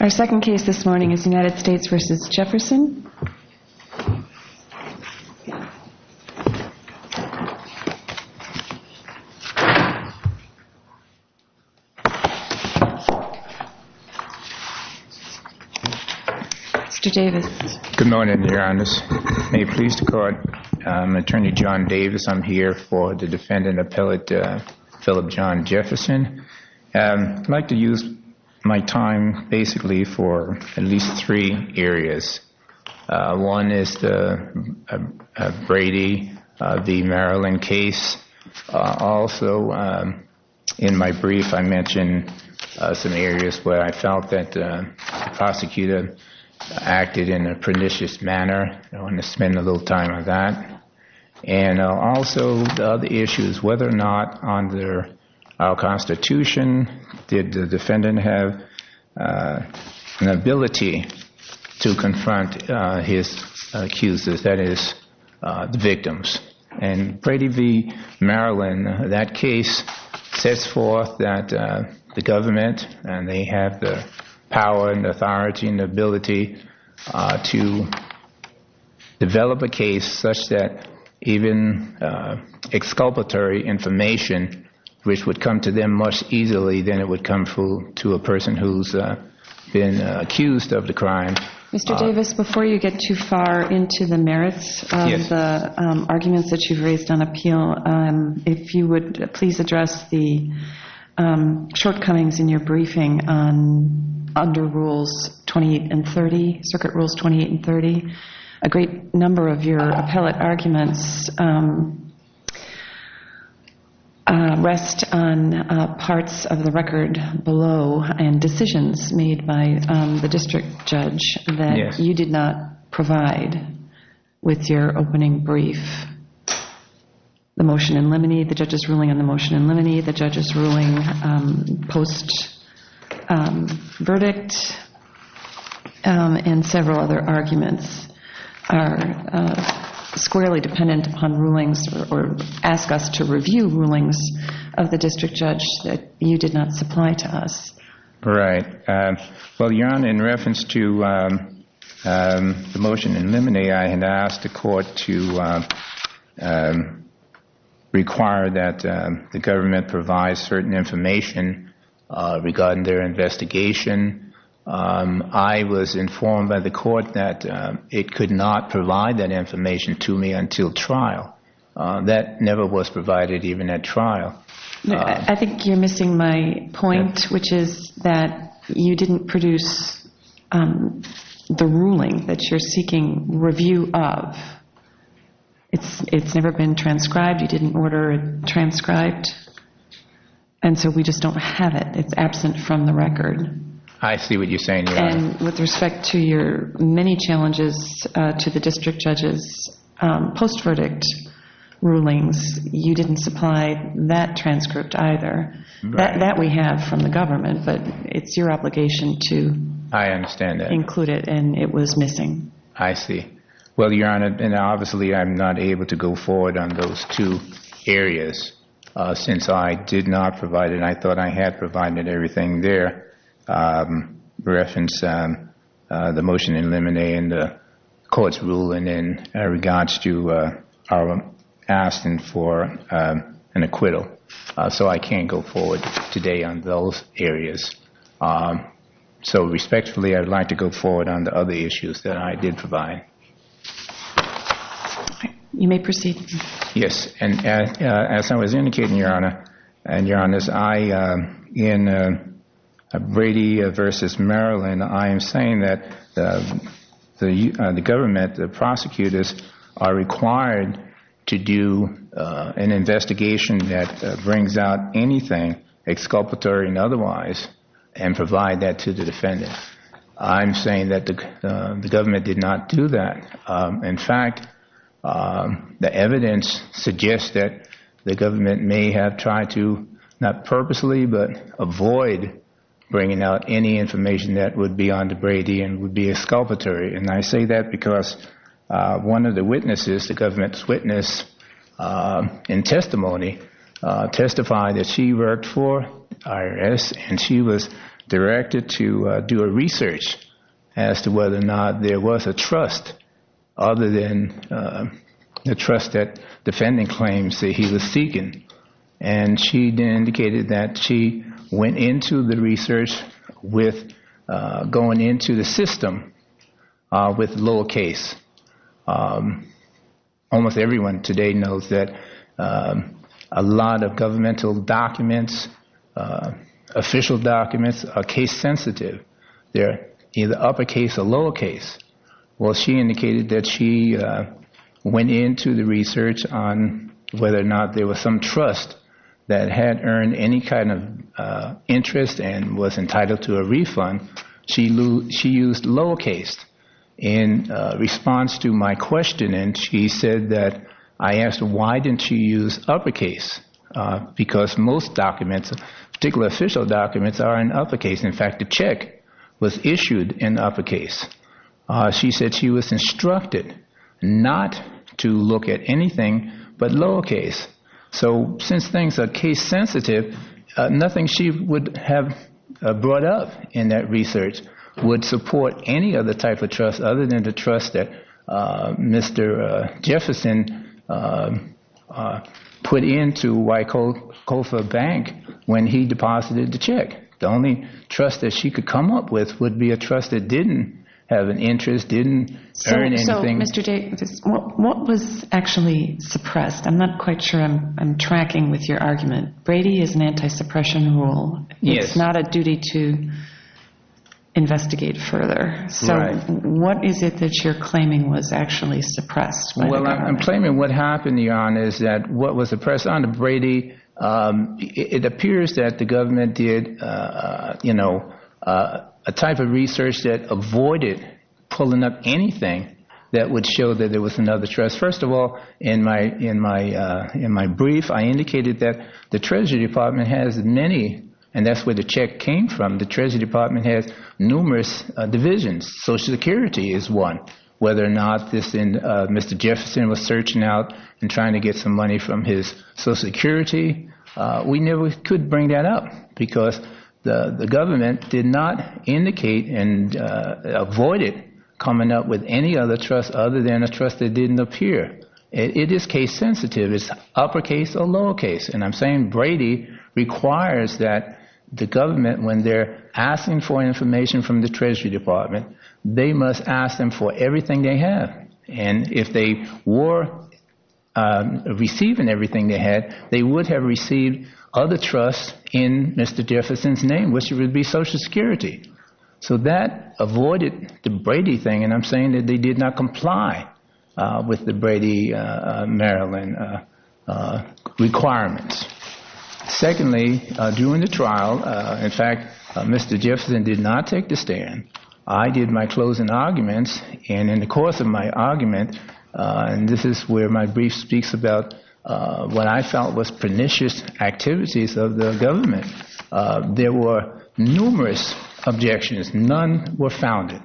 Our second case this morning is United States v. Jefferson. Mr. Davis. Good morning, Your Honors. May it please the Court, I'm Attorney John Davis. I'm here for the defendant appellate Phillip John Jefferson. I'd like to use my time basically for at least three areas. One is the Brady v. Maryland case. Also in my brief I mentioned some areas where I felt that the prosecutor acted in a pernicious manner. I want to spend a little time on that. And also the other issue is whether or not under our Constitution, did the defendant have an ability to confront his accusers, that is the victims. In Brady v. Maryland, that case sets forth that the government, and they have the power and authority and ability to develop a case such that even exculpatory information which would come to them much easily than it would come to a person who's been accused of the crime. Mr. Davis, before you get too far into the merits of the arguments that you've raised on appeal, if you would please address the shortcomings in your briefing under Rules 28 and 30, Circuit Rules 28 and 30. A great number of your appellate arguments rest on parts of the record below and decisions made by the district judge that you did not provide with your opening brief. The motion in limine, the judge's ruling on the motion in limine, the judge's ruling post-verdict, and several other arguments are squarely dependent upon rulings or ask us to review rulings of the district judge that you did not supply to us. Right. Well, Jan, in reference to the motion in limine, I had asked the court to require that the government provide certain information regarding their investigation. I was informed by the court that it could not provide that information to me until trial. I think you're missing my point, which is that you didn't produce the ruling that you're seeking review of. It's never been transcribed. You didn't order it transcribed. And so we just don't have it. It's absent from the record. I see what you're saying. And with respect to your many challenges to the district judge's post-verdict rulings, you didn't supply that transcript either, that we have from the government. But it's your obligation to include it. I understand that. And it was missing. I see. Well, Your Honor, and obviously I'm not able to go forward on those two areas since I did not provide it. I thought I had provided everything there in reference to the motion in limine and the court's ruling in regards to our asking for an acquittal. So I can't go forward today on those areas. So respectfully, I'd like to go forward on the other issues that I did provide. You may proceed. Yes. As I was indicating, Your Honor, and Your Honor, in Brady v. Maryland, I am saying that the government, the prosecutors, are required to do an investigation that brings out anything exculpatory and otherwise and provide that to the defendant. I'm saying that the government did not do that. In fact, the evidence suggests that the government may have tried to, not purposely, but avoid bringing out any information that would be on to Brady and would be exculpatory. And I say that because one of the witnesses, the government's witness in testimony, testified that she worked for IRS, and she was directed to do a research as to whether or not there was a trust other than the trust that defendant claims that he was seeking. And she indicated that she went into the research with going into the system with lower case. Almost everyone today knows that a lot of governmental documents, official documents, are case sensitive. They're either upper case or lower case. Well, she indicated that she went into the research on whether or not there was some trust that had earned any kind of interest and was entitled to a refund. She used lower case in response to my question. And she said that I asked, why didn't she use upper case? Because most documents, particular official documents, are in upper case. In fact, the check was issued in upper case. She said she was instructed not to look at anything but lower case. So since things are case sensitive, nothing she would have brought up in that research would support any other type of trust other than the trust that Mr. Jefferson put into Wyckoffer Bank when he deposited the check. The only trust that she could come up with would be a trust that didn't have an interest, didn't earn anything. Mr. Davis, what was actually suppressed? I'm not quite sure I'm tracking with your argument. Brady is an anti-suppression rule. It's not a duty to investigate further. So what is it that you're claiming was actually suppressed? Well, I'm claiming what happened, Your Honor, is that what was suppressed under Brady, it appears that the government did a type of research that avoided pulling up anything that would show that there was another trust. First of all, in my brief, I indicated that the Treasury Department has many, and that's where the check came from, the Treasury Department has numerous divisions. Social Security is one. Whether or not Mr. Jefferson was searching out and trying to get some money from his Social Security, we never could bring that up because the government did not indicate and avoided coming up with any other trust other than a trust that didn't appear. It is case sensitive. It's uppercase or lowercase. And I'm saying Brady requires that the government, when they're asking for information from the Treasury Department, they must ask them for everything they have. And if they were receiving everything they had, they would have received other trusts in Mr. Jefferson's name, which would be Social Security. So that avoided the Brady thing, and I'm saying that they did not comply with the Brady-Maryland requirements. Secondly, during the trial, in fact, Mr. Jefferson did not take the stand. I did my closing arguments, and in the course of my argument, and this is where my brief speaks about what I felt was pernicious activities of the government, there were numerous objections. None were founded.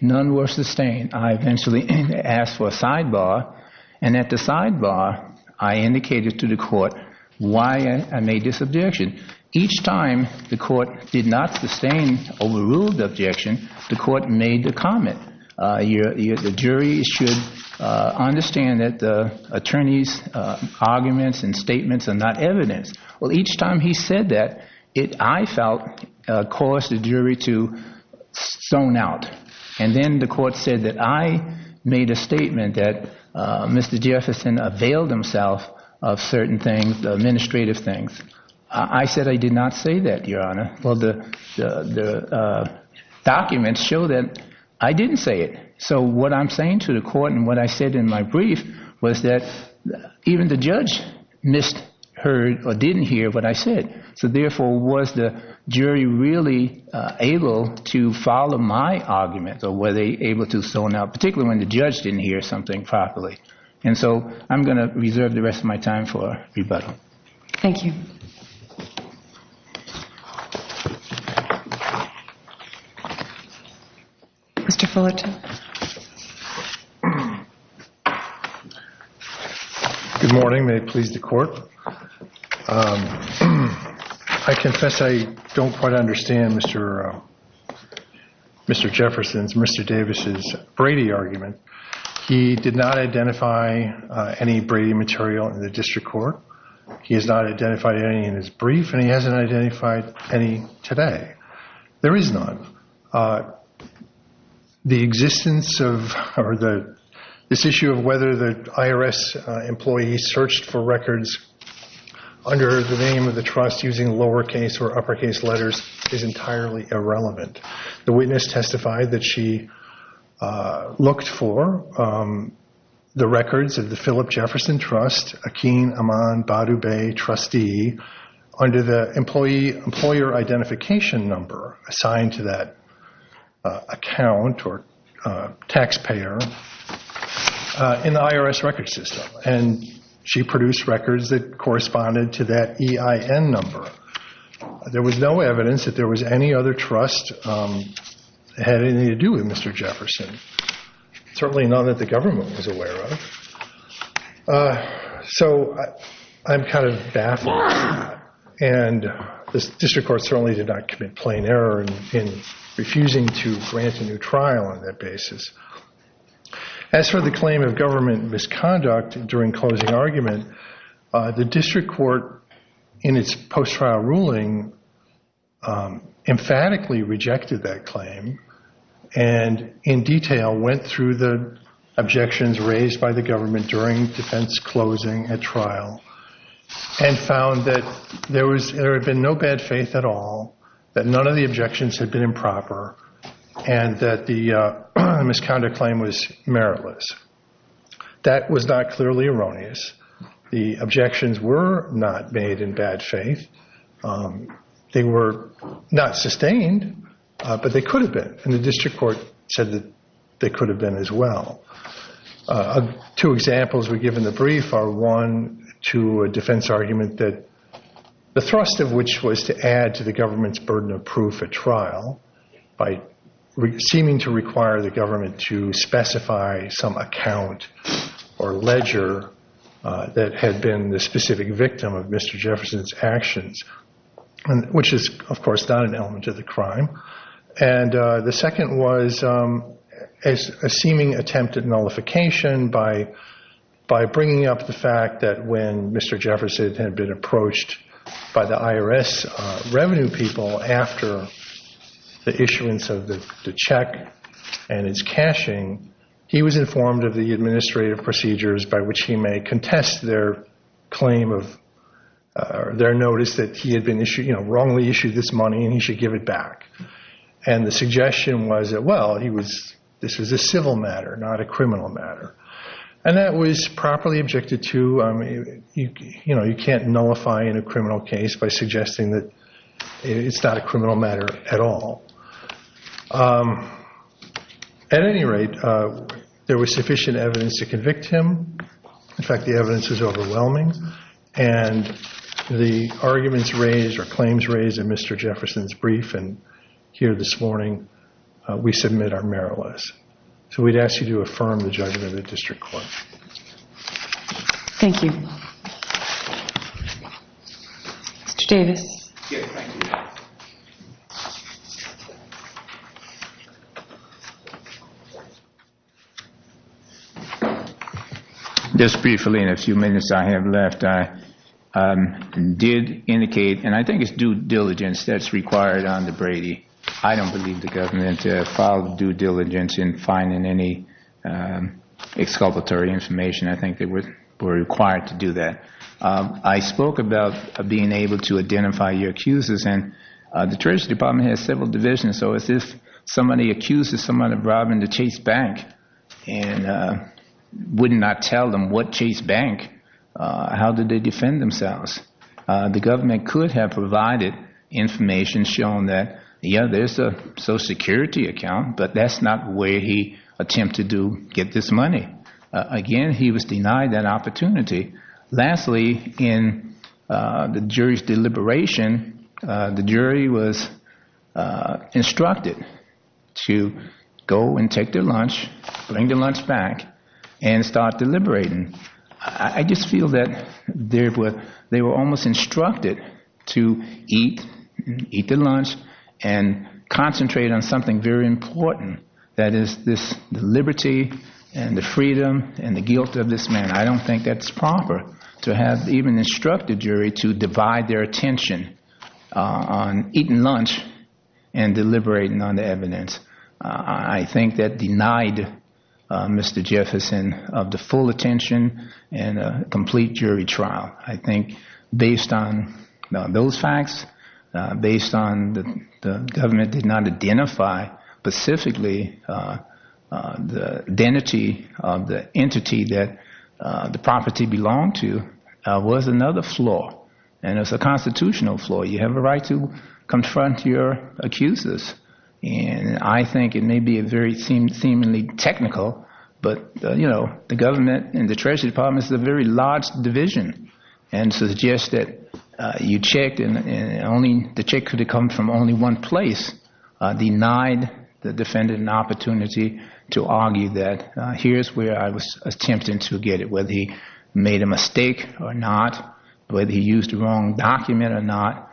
None were sustained. I eventually asked for a sidebar, and at the sidebar, I indicated to the court why I made this objection. Each time the court did not sustain overruled objection, the court made the comment, the jury should understand that the attorney's arguments and statements are not evidence. Well, each time he said that, I felt caused the jury to zone out. And then the court said that I made a statement that Mr. Jefferson availed himself of certain things, administrative things. I said I did not say that, Your Honor. Well, the documents show that I didn't say it. So what I'm saying to the court and what I said in my brief was that even the judge missed, heard, or didn't hear what I said. So therefore, was the jury really able to follow my argument, or were they able to zone out, particularly when the judge didn't hear something properly? And so I'm going to reserve the rest of my time for rebuttal. Thank you. Mr. Fullerton. Good morning. May it please the court? I confess I don't quite understand Mr. Jefferson's, Mr. Davis's Brady argument. He did not identify any Brady material in the district court. He has not identified any in his brief, and he hasn't identified any today. There is none. The existence of this issue of whether the IRS employee searched for records under the name of the trust using lowercase or uppercase letters is entirely irrelevant. The witness testified that she looked for the records of the Philip Jefferson Trust, Akeen Amman Badubay trustee, under the employer identification number assigned to that account or taxpayer in the IRS record system, and she produced records that corresponded to that EIN number. There was no evidence that there was any other trust that had anything to do with Mr. Jefferson, certainly none that the government was aware of. So I'm kind of baffled, and the district court certainly did not commit plain error in refusing to grant a new trial on that basis. As for the claim of government misconduct during closing argument, the district court in its post-trial ruling emphatically rejected that claim and in detail went through the objections raised by the government during defense closing at trial and found that there had been no bad faith at all, that none of the objections had been improper, and that the misconduct claim was meritless. That was not clearly erroneous. The objections were not made in bad faith. They were not sustained, but they could have been, and the district court said that they could have been as well. Two examples we give in the brief are one to a defense argument that the thrust of which was to add to the government's burden of proof at trial by seeming to require the government to specify some account or ledger that had been the specific victim of Mr. Jefferson's actions, which is, of course, not an element of the crime. And the second was a seeming attempt at nullification by bringing up the fact that when Mr. Jefferson had been approached by the IRS revenue people after the issuance of the check and its cashing, he was informed of the administrative procedures by which he may contest their claim of their notice that he had wrongly issued this money and he should give it back. And the suggestion was that, well, this was a civil matter, not a criminal matter. And that was properly objected to. You can't nullify in a criminal case by suggesting that it's not a criminal matter at all. At any rate, there was sufficient evidence to convict him. In fact, the evidence was overwhelming. And the arguments raised or claims raised in Mr. Jefferson's brief and here this morning, we submit our merit list. So we'd ask you to affirm the judgment of the district court. Thank you. Mr. Davis. Yes, thank you. Just briefly, in a few minutes I have left, I did indicate, and I think it's due diligence that's required under Brady. I don't believe the government filed due diligence in finding any exculpatory information. I think they were required to do that. I spoke about being able to identify your accusers. And the Treasury Department has several divisions. So if somebody accuses somebody of robbing the Chase Bank and would not tell them what Chase Bank, how did they defend themselves? The government could have provided information showing that, yeah, there's a Social Security account, but that's not the way he attempted to get this money. Again, he was denied that opportunity. Lastly, in the jury's deliberation, the jury was instructed to go and take their lunch, bring their lunch back, and start deliberating. I just feel that they were almost instructed to eat, eat their lunch, and concentrate on something very important. That is this liberty and the freedom and the guilt of this man. I don't think that's proper to have even instructed jury to divide their attention on eating lunch and deliberating on the evidence. I think that denied Mr. Jefferson of the full attention and a complete jury trial. I think based on those facts, based on the government did not identify specifically the identity of the entity that the property belonged to, was another flaw. And it's a constitutional flaw. You have a right to confront your accusers. And I think it may be a very seemingly technical, but the government and the Treasury Department is a very large division and suggests that you checked and the check could have come from only one place. Denied the defendant an opportunity to argue that here's where I was attempting to get it. Whether he made a mistake or not, whether he used the wrong document or not,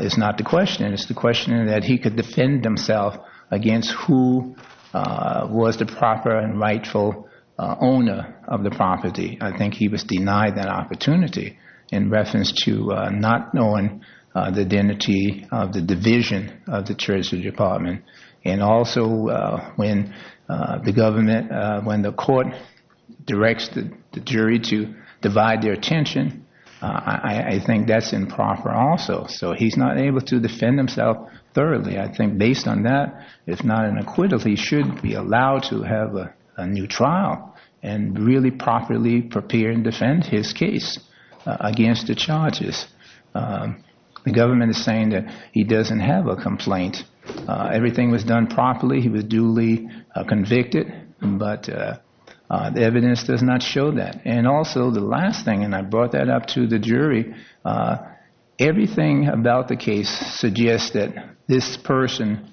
is not the question. It's the question that he could defend himself against who was the proper and rightful owner of the property. I think he was denied that opportunity in reference to not knowing the identity of the division of the Treasury Department. And also when the court directs the jury to divide their attention, I think that's improper also. So he's not able to defend himself thoroughly. I think based on that, if not an acquittal, he should be allowed to have a new trial and really properly prepare and defend his case against the charges. The government is saying that he doesn't have a complaint. Everything was done properly. He was duly convicted, but the evidence does not show that. And also the last thing, and I brought that up to the jury, everything about the case suggests that this person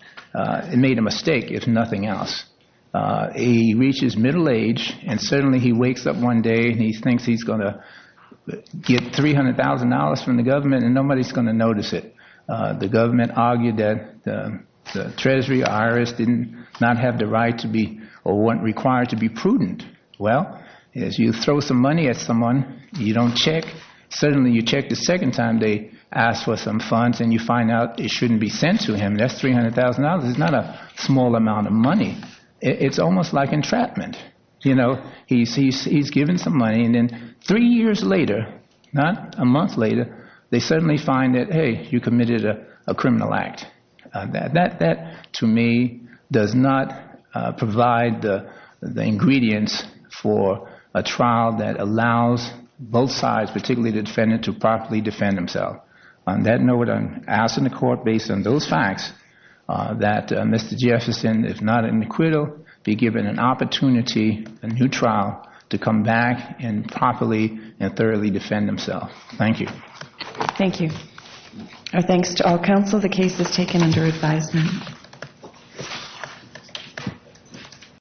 made a mistake, if nothing else. He reaches middle age and suddenly he wakes up one day and he thinks he's going to get $300,000 from the government and nobody's going to notice it. The government argued that the Treasury IRS did not have the right to be or weren't required to be prudent. Well, as you throw some money at someone, you don't check. Suddenly you check the second time they ask for some funds and you find out it shouldn't be sent to him. That's $300,000. It's not a small amount of money. It's almost like entrapment. He's given some money and then three years later, not a month later, they suddenly find that, hey, you committed a criminal act. That, to me, does not provide the ingredients for a trial that allows both sides, particularly the defendant, to properly defend himself. On that note, I'm asking the court, based on those facts, that Mr. Jefferson, if not in acquittal, be given an opportunity, a new trial, to come back and properly and thoroughly defend himself. Thank you. Thank you. Our thanks to all counsel. The case is taken under advisement.